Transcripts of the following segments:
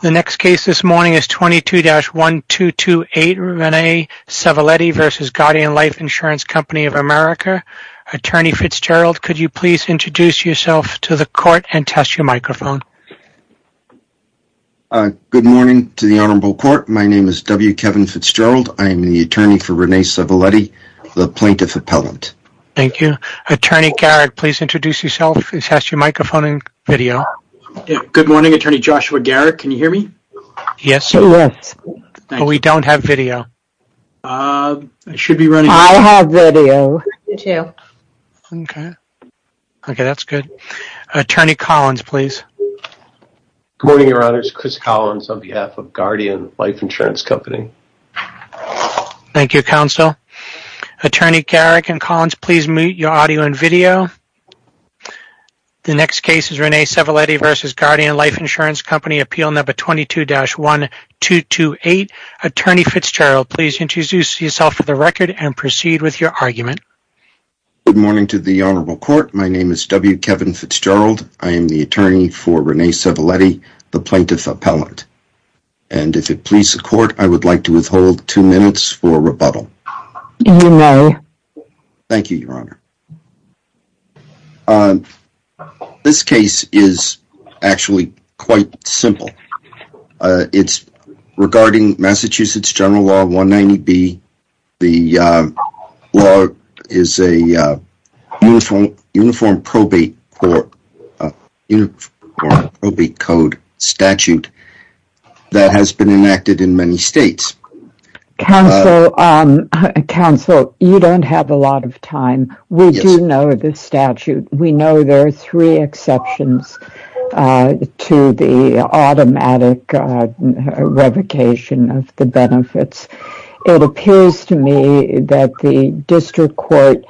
The next case this morning is 22-1228 Rene Sevelitte v. Guardian Life Insurance Company of America. Attorney Fitzgerald, could you please introduce yourself to the court and test your microphone? Good morning to the Honorable Court. My name is W. Kevin Fitzgerald. I am the attorney for Rene Sevelitte, the plaintiff appellant. Thank you. Attorney Garrick, please introduce yourself and test your microphone and video. Good morning, Attorney Joshua Garrick. Can you hear me? Yes, but we don't have video. I have video. Okay, that's good. Attorney Collins, please. Good morning, Your Honors. Chris Collins on behalf of Guardian Life Insurance Company. Thank you, Counsel. Attorney Garrick and Collins, please mute your audio and video. The next case is Rene Sevelitte v. Guardian Life Insurance Company, appeal number 22-1228. Attorney Fitzgerald, please introduce yourself for the record and proceed with your argument. Good morning to the Honorable Court. My name is W. Kevin Fitzgerald. I am the attorney for Rene Sevelitte, the plaintiff appellant. And if it pleases the Court, I would like to withhold two minutes for rebuttal. You may. Thank you, Your Honor. This case is actually quite simple. It's regarding Massachusetts General Law 190B. The law is a Uniform Probate Code statute that has been enacted in many states. Counsel, you don't have a lot of time. We do know the statute. We know there are three exceptions to the automatic revocation of the benefits. It appears to me that the District Court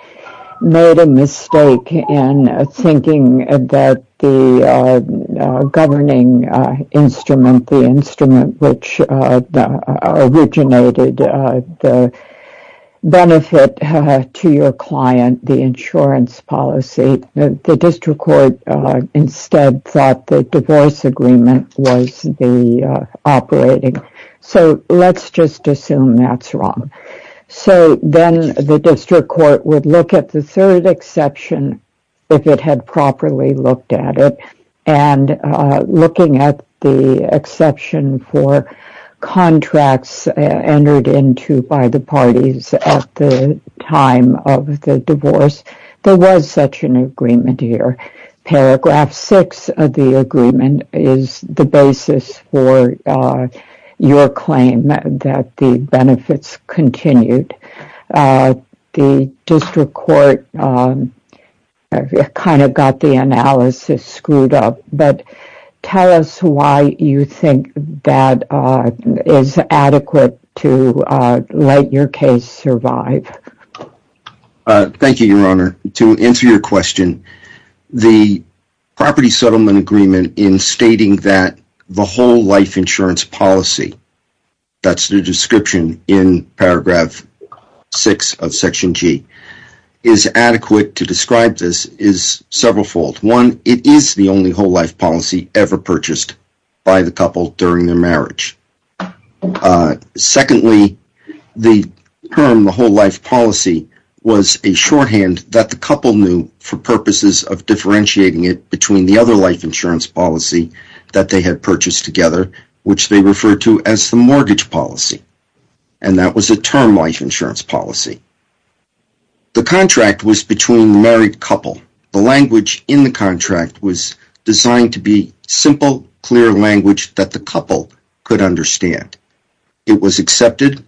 made a mistake in thinking that the governing instrument, the instrument which originated the benefit to your client, the insurance policy, the District Court instead thought the divorce agreement was the operating. So let's just assume that's wrong. So then the District Court would look at the third exception, if it had properly looked at it, and looking at the exception for contracts entered into by the parties at the time of the divorce, there was such an agreement here. Paragraph 6 of the agreement is the basis for your claim that the benefits continued. The District Court kind of got the analysis screwed up. But tell us why you think that is adequate to let your case survive. Thank you, Your Honor. To answer your question, the property settlement agreement in stating that the whole life insurance policy, that's the description in paragraph 6 of Section G, is adequate to describe this is several fold. One, it is the only whole life policy ever purchased by the couple during their marriage. Secondly, the term the whole life policy was a shorthand that the couple knew for purposes of differentiating it between the other life insurance policy that they had purchased together, which they referred to as the mortgage policy. And that was a term life insurance policy. The contract was between married couple. The language in the contract was designed to be simple, clear language that the couple could understand. It was accepted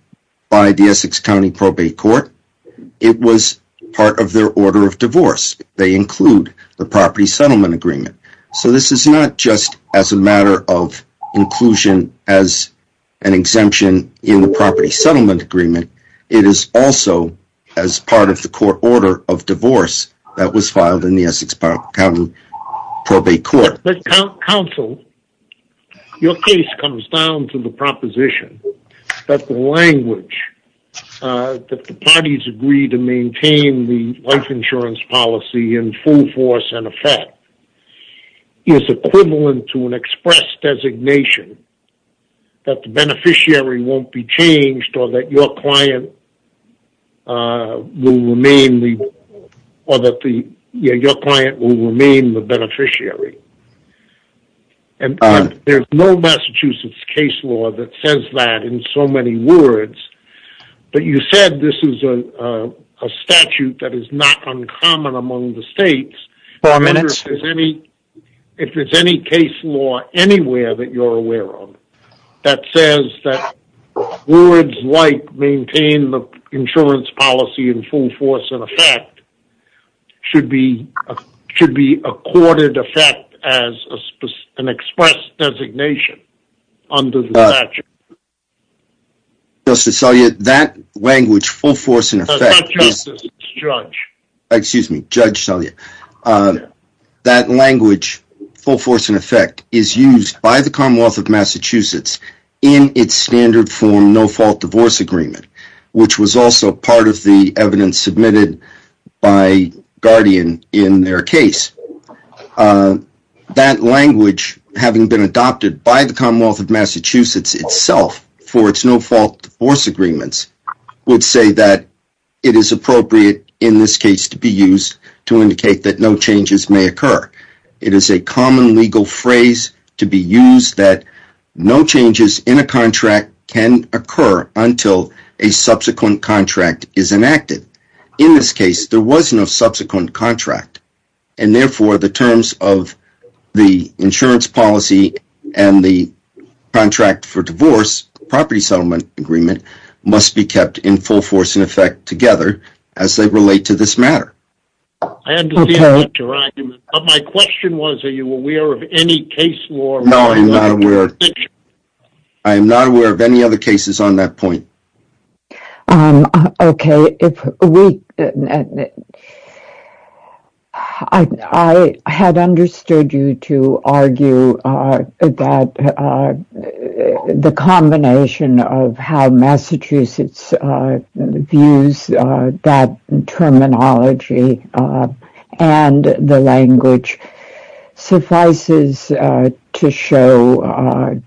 by the Essex County Probate Court. It was part of their order of divorce. They include the property settlement agreement. So this is not just as a matter of inclusion as an exemption in the property settlement agreement. It is also as part of the court order of divorce that was filed in the Essex County Probate Court. Counsel, your case comes down to the proposition that the language that the parties agree to maintain the life insurance policy in full force and effect is equivalent to an express designation that the beneficiary won't be changed or that your client will remain the beneficiary. There's no Massachusetts case law that says that in so many words. But you said this is a statute that is not uncommon among the states. If there's any case law anywhere that you're aware of that says that words like maintain the insurance policy in full force and effect should be accorded effect as an express designation under the statute. Justice Selye, that language full force and effect is used by the Commonwealth of Massachusetts in its standard form no fault divorce agreement which was also part of the evidence submitted by Guardian in their case. That language having been adopted by the Commonwealth of Massachusetts itself for its no fault divorce agreements would say that it is appropriate in this case to be used to indicate that no changes may occur. It is a common legal phrase to be used that no changes in a contract can occur until a subsequent contract is enacted. In this case there was no subsequent contract and therefore the terms of the insurance policy and the contract for divorce property settlement agreement must be kept in full force and effect together as they relate to this matter. I understand your argument, but my question was are you aware of any case law? No, I'm not aware. I'm not aware of any other cases on that point. Okay, I had understood you to argue that the combination of how Massachusetts views that terminology and the language suffices to show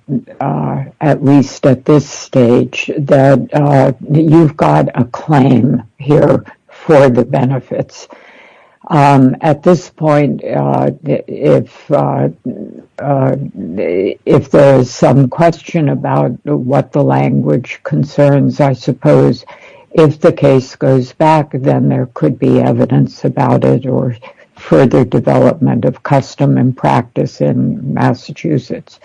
at least at this stage that you've got a claim here for the benefits. At this point if there is some question about what the language concerns I suppose if the case goes back then there could be evidence about it or further development of custom and practice in Massachusetts.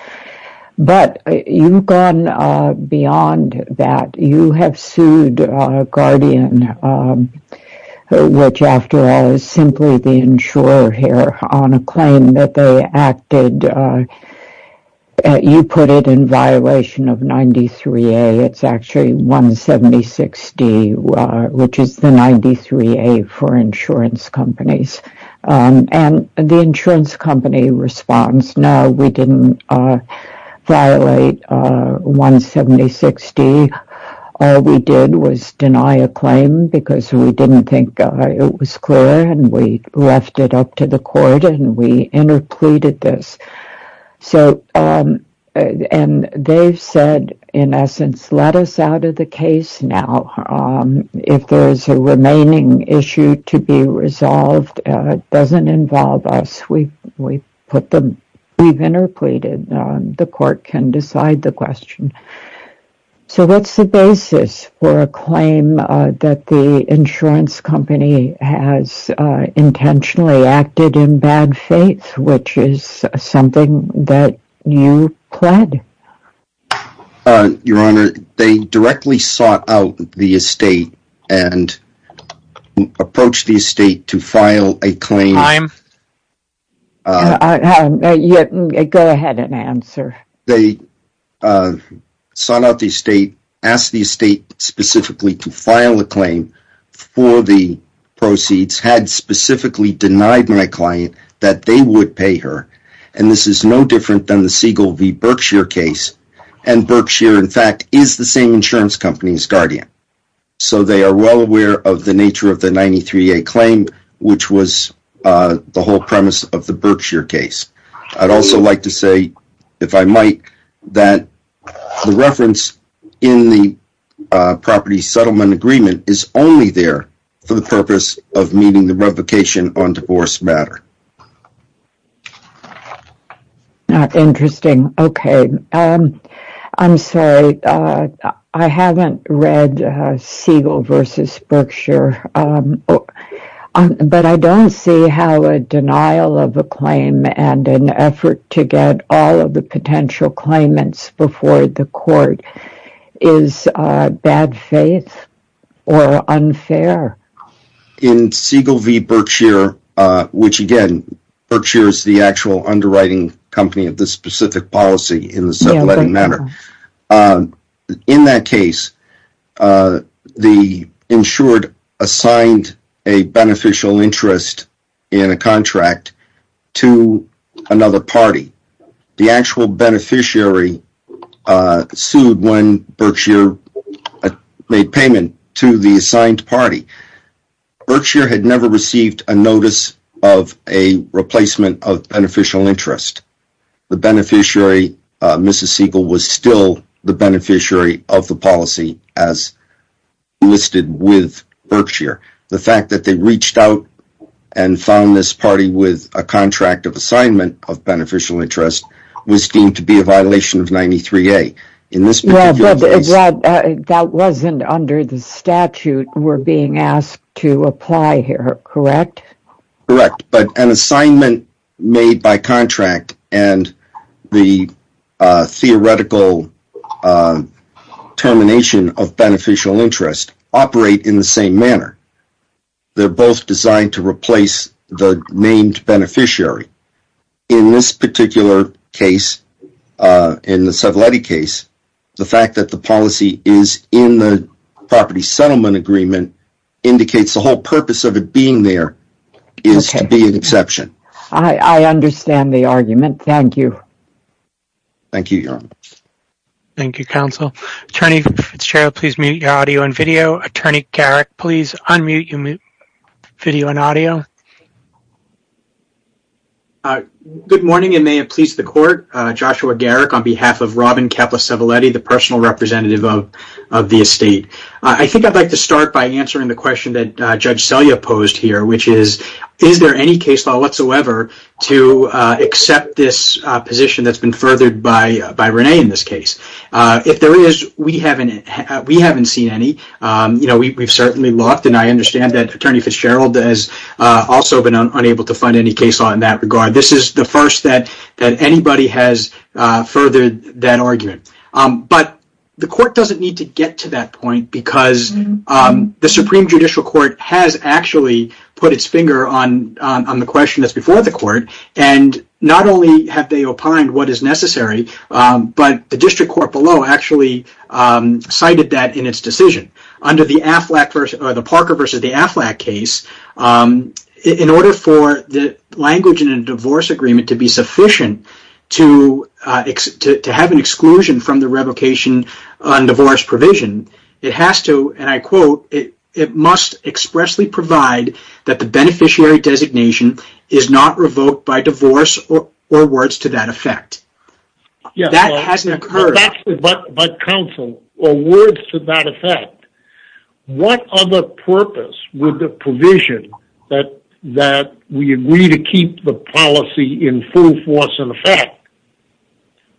But you've gone beyond that. You have sued Guardian, which after all is simply the insurer here, on a claim that they acted, you put it in violation of 93A, it's actually 176D, which is the 93A for insurance companies. And the insurance company responds, no, we didn't violate 176D. All we did was deny a claim because we didn't think it was clear and we left it up to the court and we interpleaded this. And they've said, in essence, let us out of the case now. If there is a remaining issue to be resolved that doesn't involve us, we've interpleaded. The court can decide the question. So what's the basis for a claim that the insurance company has intentionally acted in bad faith, which is something that you pled? Your Honor, they directly sought out the estate and approached the estate to file a claim. Time. Go ahead and answer. They sought out the estate, asked the estate specifically to file a claim for the proceeds, had specifically denied my client that they would pay her, and this is no different than the Siegel v. Berkshire case. And Berkshire, in fact, is the same insurance company as Guardian. So they are well aware of the nature of the 93A claim, which was the whole premise of the Berkshire case. I'd also like to say, if I might, that the reference in the property settlement agreement is only there for the purpose of meeting the revocation on divorce matter. Interesting. Okay. I'm sorry. I haven't read Siegel v. Berkshire, but I don't see how a denial of a claim and an effort to get all of the potential claimants before the court is bad faith or unfair. In Siegel v. Berkshire, which again, Berkshire is the actual underwriting company of this specific policy In that case, the insured assigned a beneficial interest in a contract to another party. The actual beneficiary sued when Berkshire made payment to the assigned party. Berkshire had never received a notice of a replacement of beneficial interest. The beneficiary, Mrs. Siegel, was still the beneficiary of the policy as listed with Berkshire. The fact that they reached out and found this party with a contract of assignment of beneficial interest was deemed to be a violation of 93A. That wasn't under the statute we're being asked to apply here, correct? Correct, but an assignment made by contract and the theoretical termination of beneficial interest operate in the same manner. They're both designed to replace the named beneficiary. In this particular case, in the Soveletti case, the fact that the policy is in the property settlement agreement indicates the whole purpose of it being there is to be an exception. I understand the argument. Thank you. Thank you, Your Honor. Thank you, Counsel. Attorney Fitzgerald, please mute your audio and video. Attorney Garrick, please unmute your video and audio. Good morning and may it please the Court. Joshua Garrick on behalf of Robin Keppla Soveletti, the personal representative of the estate. I think I'd like to start by answering the question that Judge Selya posed here, which is, is there any case law whatsoever to accept this position that's been furthered by Rene in this case? If there is, we haven't seen any. We've certainly looked, and I understand that Attorney Fitzgerald has also been unable to find any case law in that regard. This is the first that anybody has furthered that argument. But the Court doesn't need to get to that point because the Supreme Judicial Court has actually put its finger on the question that's before the Court, and not only have they opined what is necessary, but the district court below actually cited that in its decision. Under the Parker v. Aflac case, in order for the language in a divorce agreement to be sufficient to have an exclusion from the revocation on divorce provision, it must expressly provide that the beneficiary designation is not revoked by divorce or words to that effect. That hasn't occurred. But counsel, words to that effect. What other purpose would the provision that we agree to keep the policy in full force and effect,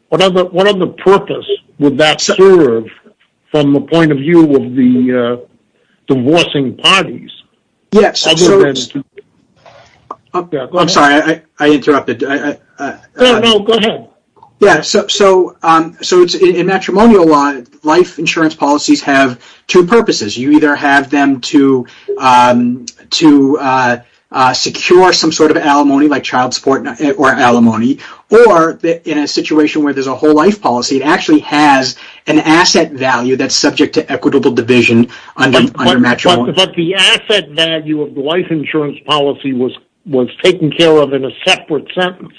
what other purpose would that serve from the point of view of the divorcing parties? Yes. I'm sorry, I interrupted. Go ahead. In matrimonial law, life insurance policies have two purposes. You either have them to secure some sort of alimony like child support or alimony, or in a situation where there's a whole life policy, it actually has an asset value that's subject to equitable division under matrimony. But the asset value of the life insurance policy was taken care of in a separate sentence.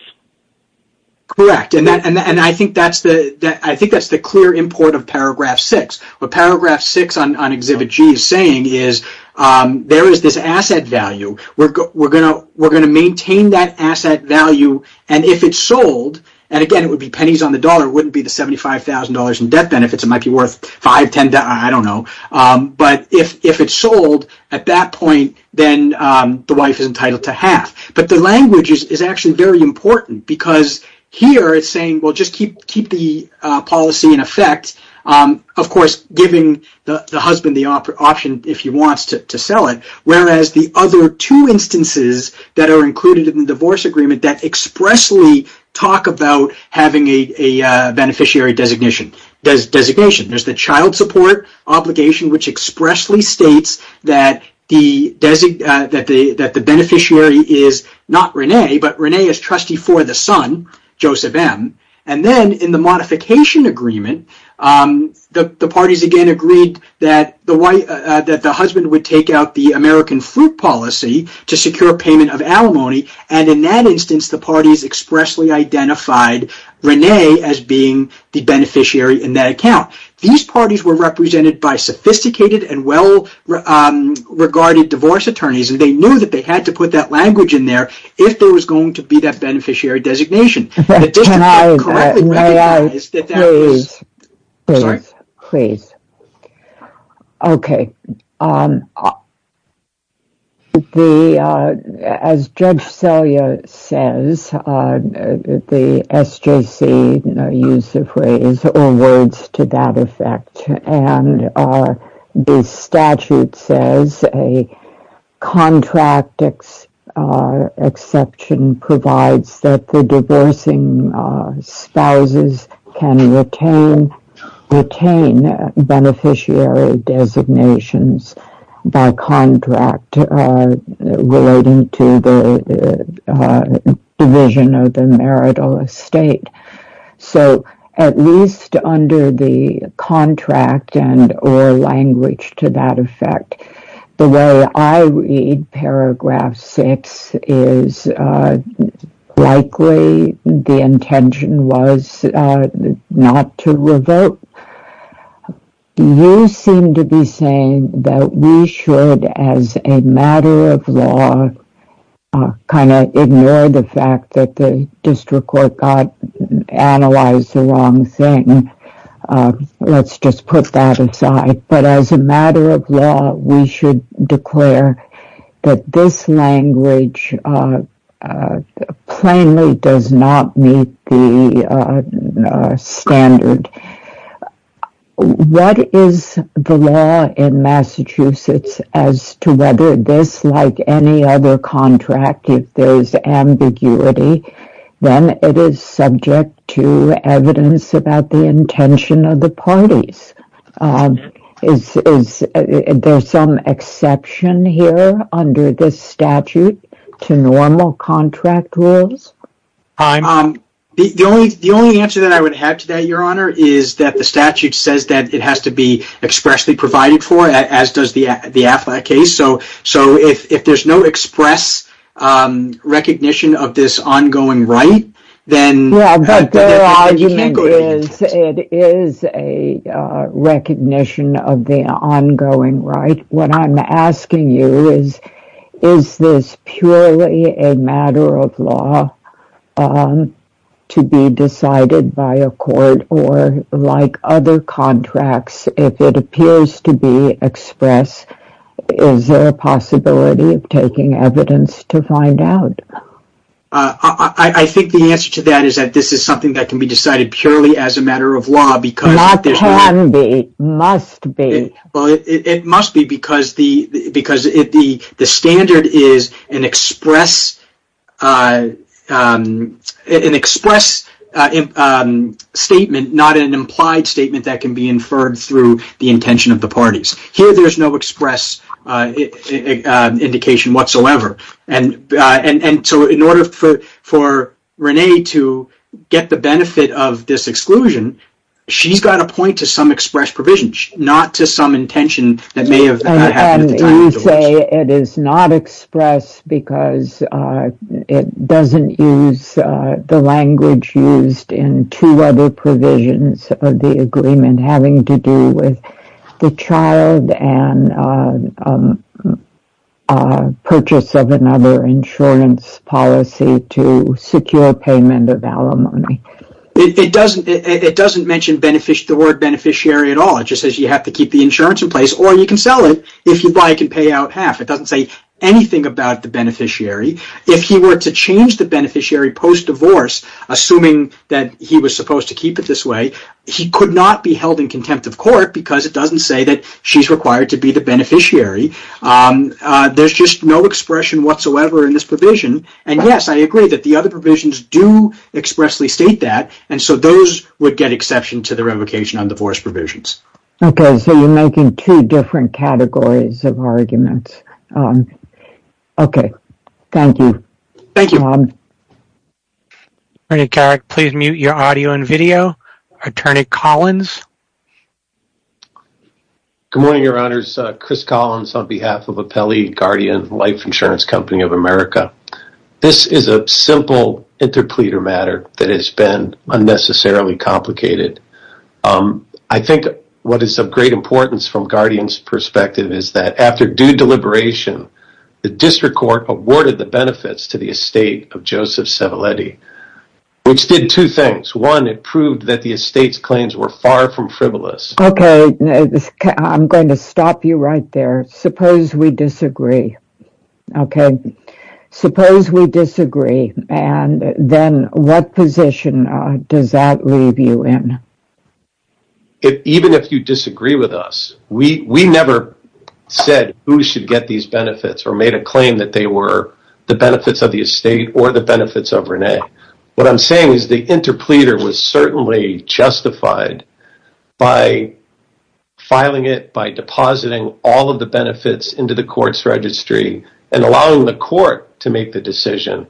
Correct. I think that's the clear import of paragraph 6. What paragraph 6 on Exhibit G is saying is there is this asset value. We're going to maintain that asset value, and if it's sold, and again, it would be pennies on the dollar. It wouldn't be the $75,000 in debt benefits. It might be worth $5,000 or $10,000. But if it's sold at that point, then the wife is entitled to half. But the language is actually very important because here it's saying just keep the policy in effect, of course, giving the husband the option if he wants to sell it, whereas the other two instances that are included in the divorce agreement that expressly talk about having a beneficiary designation. There's the child support obligation, which expressly states that the beneficiary is not Rene, but Rene is trustee for the son, Joseph M. And then in the modification agreement, the parties again agreed that the husband would take out the American fruit policy to secure payment of alimony, and in that instance, the parties expressly identified Rene as being the beneficiary in that account. These parties were represented by sophisticated and well-regarded divorce attorneys, and they knew that they had to put that language in there if there was going to be that beneficiary designation. Can I, please? Sorry. Please. Okay. As Judge Selya says, the SJC used the phrase or words to that effect, and the statute says a contract exception provides that the divorcing spouses can retain beneficiary designations by contract relating to the division of the marital estate. So, at least under the contract and or language to that effect, the way I read paragraph six is likely the intention was not to revoke. You seem to be saying that we should, as a matter of law, kind of ignore the fact that the district court analyzed the wrong thing. Let's just put that aside. But as a matter of law, we should declare that this language plainly does not meet the standard. What is the law in Massachusetts as to whether this, like any other contract, if there is ambiguity, then it is subject to evidence about the intention of the parties? Is there some exception here under this statute to normal contract rules? The only answer that I would have to that, Your Honor, is that the statute says that it has to be expressly provided for, as does the Affleck case. So, if there is no express recognition of this ongoing right, then you can't go ahead and test it. But their argument is that it is a recognition of the ongoing right. What I'm asking you is, is this purely a matter of law to be decided by a court or, like other contracts, if it appears to be express, is there a possibility of taking evidence to find out? I think the answer to that is that this is something that can be decided purely as a matter of law. Not can be. Must be. It must be because the standard is an express statement, not an implied statement that can be inferred through the intention of the parties. Here, there is no express indication whatsoever. In order for Renee to get the benefit of this exclusion, she's got to point to some express provision, not to some intention that may have happened at the time. You say it is not express because it doesn't use the language used in two other provisions of the agreement having to do with the child and purchase of another insurance policy to secure payment of alimony. It doesn't mention the word beneficiary at all. It just says you have to keep the insurance in place or you can sell it if your buyer can pay out half. It doesn't say anything about the beneficiary. If he were to change the beneficiary post-divorce, assuming that he was supposed to keep it this way, he could not be held in contempt of court because it doesn't say that she's required to be the beneficiary. There's just no expression whatsoever in this provision. Yes, I agree that the other provisions do expressly state that, and so those would get exception to the revocation on divorce provisions. Okay, so you're making two different categories of arguments. Okay. Thank you. Thank you. Attorney Carrick, please mute your audio and video. Attorney Collins? Good morning, Your Honors. Chris Collins on behalf of Appellee Guardian Life Insurance Company of America. This is a simple interpleader matter that has been unnecessarily complicated. I think what is of great importance from Guardian's perspective is that after due deliberation, the district court awarded the benefits to the estate of Joseph Cevalletti, which did two things. One, it proved that the estate's claims were far from frivolous. Okay, I'm going to stop you right there. Suppose we disagree, okay? Suppose we disagree, and then what position does that leave you in? Even if you disagree with us, we never said who should get these benefits or made a claim that they were the benefits of the estate or the benefits of Renee. What I'm saying is the interpleader was certainly justified by filing it, by depositing all of the benefits into the court's registry, and allowing the court to make the decision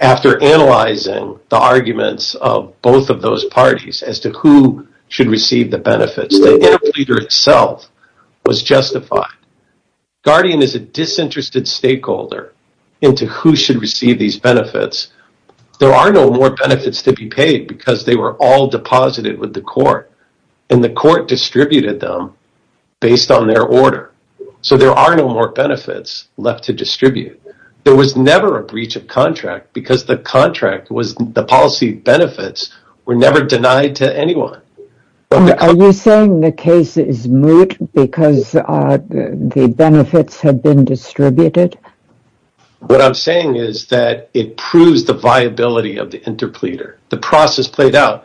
after analyzing the arguments of both of those parties as to who should receive the benefits. The interpleader itself was justified. Guardian is a disinterested stakeholder into who should receive these benefits. There are no more benefits to be paid because they were all deposited with the court, and the court distributed them based on their order. So there are no more benefits left to distribute. There was never a breach of contract because the policy benefits were never denied to anyone. Are you saying the case is moot because the benefits have been distributed? What I'm saying is that it proves the viability of the interpleader. The process played out.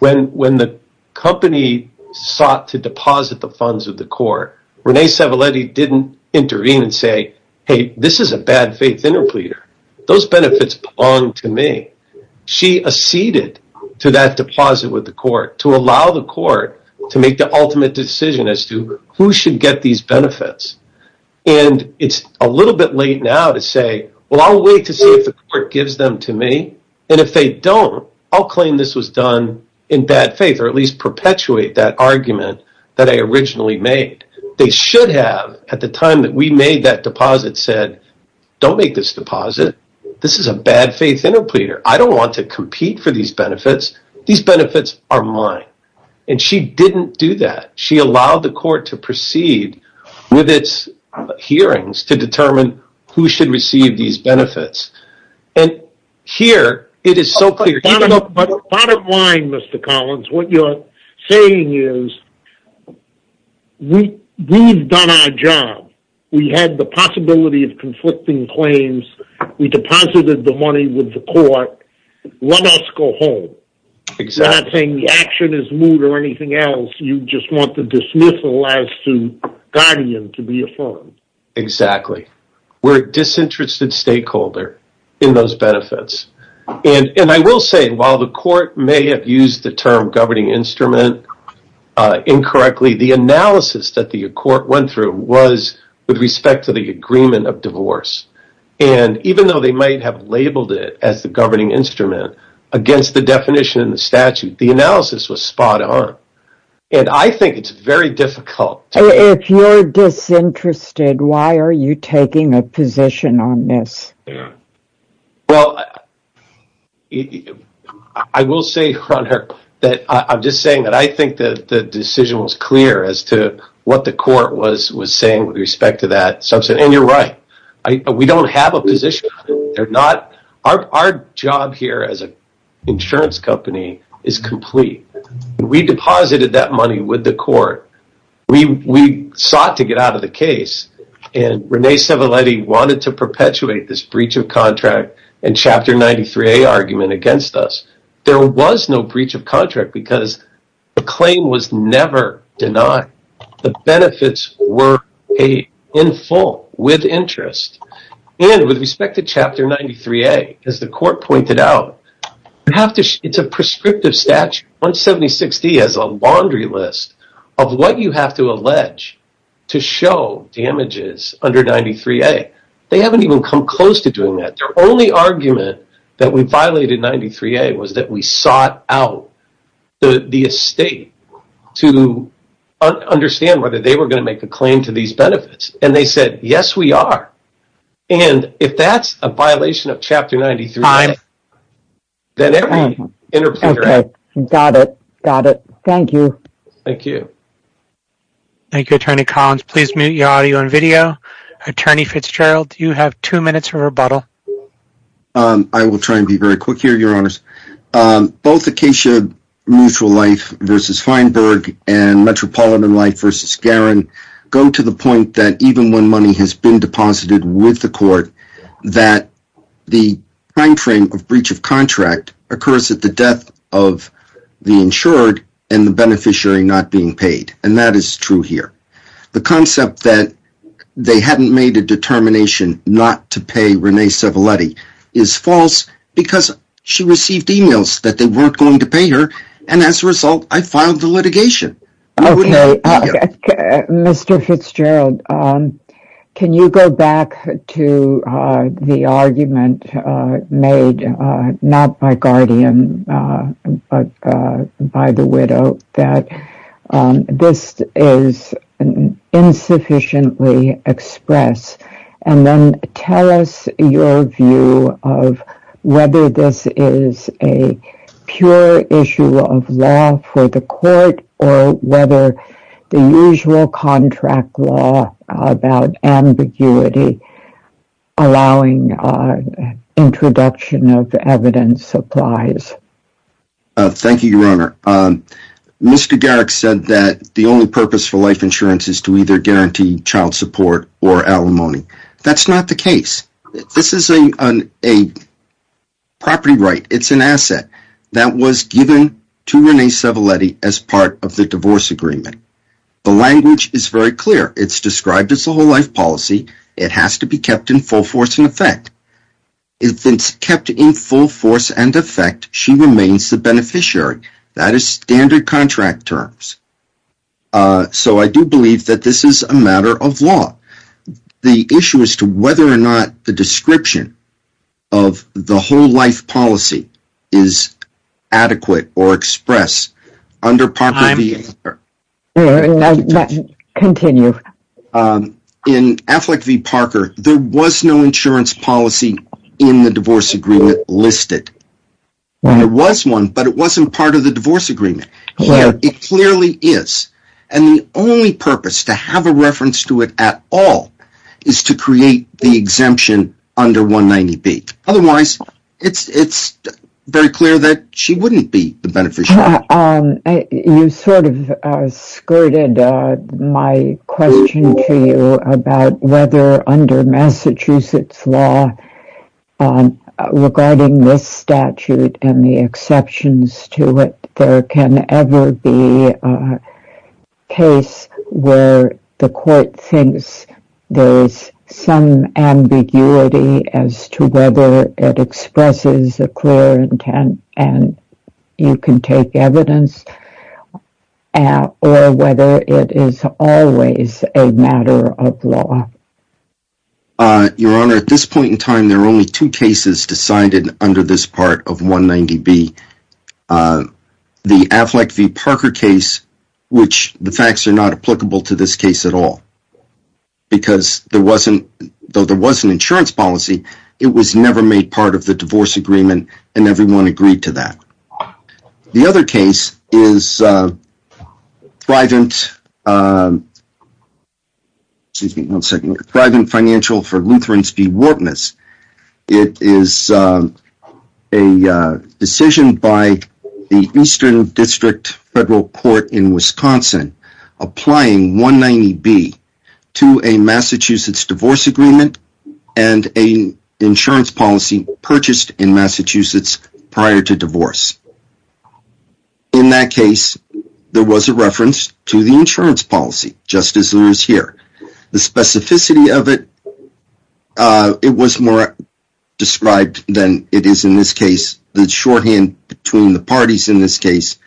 When the company sought to deposit the funds of the court, Renee Cervaletti didn't intervene and say, hey, this is a bad faith interpleader. Those benefits belong to me. She acceded to that deposit with the court to allow the court to make the ultimate decision as to who should get these benefits. It's a little bit late now to say, well, I'll wait to see if the court gives them to me. And if they don't, I'll claim this was done in bad faith or at least perpetuate that argument that I originally made. They should have, at the time that we made that deposit, said, don't make this deposit. This is a bad faith interpleader. I don't want to compete for these benefits. These benefits are mine. And she didn't do that. She allowed the court to proceed with its hearings to determine who should receive these benefits. And here it is so clear. Bottom line, Mr. Collins, what you're saying is we've done our job. We had the possibility of conflicting claims. We deposited the money with the court. Let us go home. I'm not saying the action is moot or anything else. You just want the dismissal as to guardian to be affirmed. Exactly. We're a disinterested stakeholder in those benefits. And I will say, while the court may have used the term governing instrument incorrectly, the analysis that the court went through was with respect to the agreement of divorce. And even though they might have labeled it as the governing instrument against the definition in the statute, the analysis was spot on. And I think it's very difficult. If you're disinterested, why are you taking a position on this? Well, I will say, Ron Hur, that I'm just saying that I think that the decision was clear as to what the court was saying with respect to that. And you're right. We don't have a position. They're not. Our job here as an insurance company is complete. We deposited that money with the court. We sought to get out of the case. And Renee Civelletti wanted to perpetuate this breach of contract and Chapter 93A argument against us. There was no breach of contract because the claim was never denied. The benefits were paid in full with interest. And with respect to Chapter 93A, as the court pointed out, it's a prescriptive statute. 176D has a laundry list of what you have to allege to show damages under 93A. They haven't even come close to doing that. Their only argument that we violated 93A was that we sought out the estate to understand whether they were going to make a claim to these benefits. And they said, yes, we are. And if that's a violation of Chapter 93A, then every interpreter has. Got it. Got it. Thank you. Thank you. Thank you, Attorney Collins. Please mute your audio and video. Attorney Fitzgerald, you have two minutes for rebuttal. I will try and be very quick here, Your Honors. Both Acacia Mutual Life v. Feinberg and Metropolitan Life v. Garin go to the point that even when money has been deposited with the court, that the timeframe of breach of contract occurs at the death of the insured and the beneficiary not being paid. And that is true here. The concept that they hadn't made a determination not to pay Renee Civelletti is false because she received emails that they weren't going to pay her. And as a result, I filed the litigation. Okay. Mr. Fitzgerald, can you go back to the argument made, not by Guardian, but by the widow, that this is insufficiently expressed? And then tell us your view of whether this is a pure issue of law for the court or whether the usual contract law about ambiguity allowing introduction of evidence applies. Mr. Garrick said that the only purpose for life insurance is to either guarantee child support or alimony. That's not the case. This is a property right. It's an asset that was given to Renee Civelletti as part of the divorce agreement. The language is very clear. It's described as a whole life policy. It has to be kept in full force and effect. If it's kept in full force and effect, she remains the beneficiary. That is standard contract terms. So, I do believe that this is a matter of law. The issue is to whether or not the description of the whole life policy is adequate or expressed under Parker v. Parker. Continue. In Affleck v. Parker, there was no insurance policy in the divorce agreement listed. There was one, but it wasn't part of the divorce agreement. It clearly is. And the only purpose to have a reference to it at all is to create the exemption under 190B. Otherwise, it's very clear that she wouldn't be the beneficiary. You sort of skirted my question to you about whether under Massachusetts law, regarding this statute and the exceptions to it, there can ever be a case where the court thinks there is some ambiguity as to whether it expresses a clear intent and you can take evidence or whether it is always a matter of law. Your Honor, at this point in time, there are only two cases decided under this part of 190B. The Affleck v. Parker case, which the facts are not applicable to this case at all. Because, though there was an insurance policy, it was never made part of the divorce agreement and everyone agreed to that. The other case is Thrivant Financial v. Lutheran v. Wartness. It is a decision by the Eastern District Federal Court in Wisconsin applying 190B to a Massachusetts divorce agreement and an insurance policy purchased in Massachusetts prior to divorce. In that case, there was a reference to the insurance policy, just as there is here. The specificity of it was more described than it is in this case. The shorthand between the parties in this case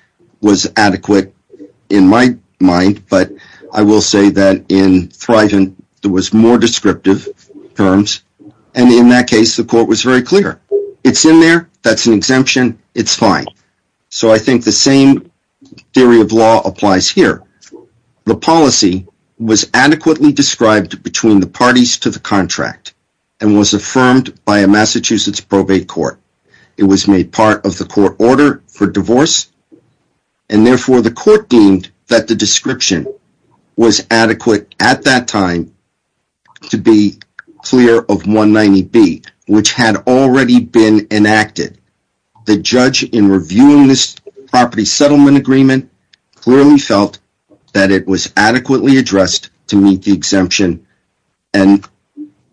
was adequate in my mind, but I will say that in Thrivant, there were more descriptive terms. In that case, the court was very clear. It's in there, that's an exemption, it's fine. I think the same theory of law applies here. The policy was adequately described between the parties to the contract and was affirmed by a Massachusetts probate court. It was made part of the court order for divorce, and therefore the court deemed that the description was adequate at that time to be clear of 190B, which had already been enacted. The judge in reviewing this property settlement agreement clearly felt that it was adequately addressed to meet the exemption and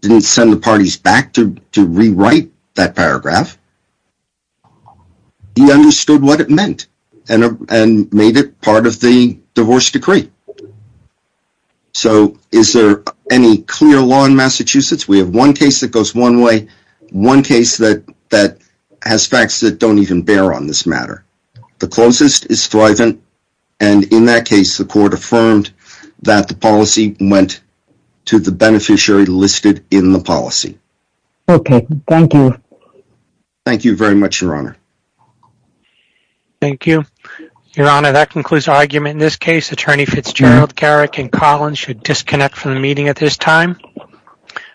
didn't send the parties back to rewrite that paragraph. He understood what it meant and made it part of the divorce decree. Is there any clear law in Massachusetts? We have one case that goes one way, one case that has facts that don't even bear on this matter. The closest is Thrivant, and in that case, the court affirmed that the policy went to the beneficiary listed in the policy. Okay, thank you. Thank you very much, Your Honor. Thank you. Your Honor, that concludes our argument in this case. Attorney Fitzgerald, Garrick, and Collins should disconnect from the meeting at this time. Thank you.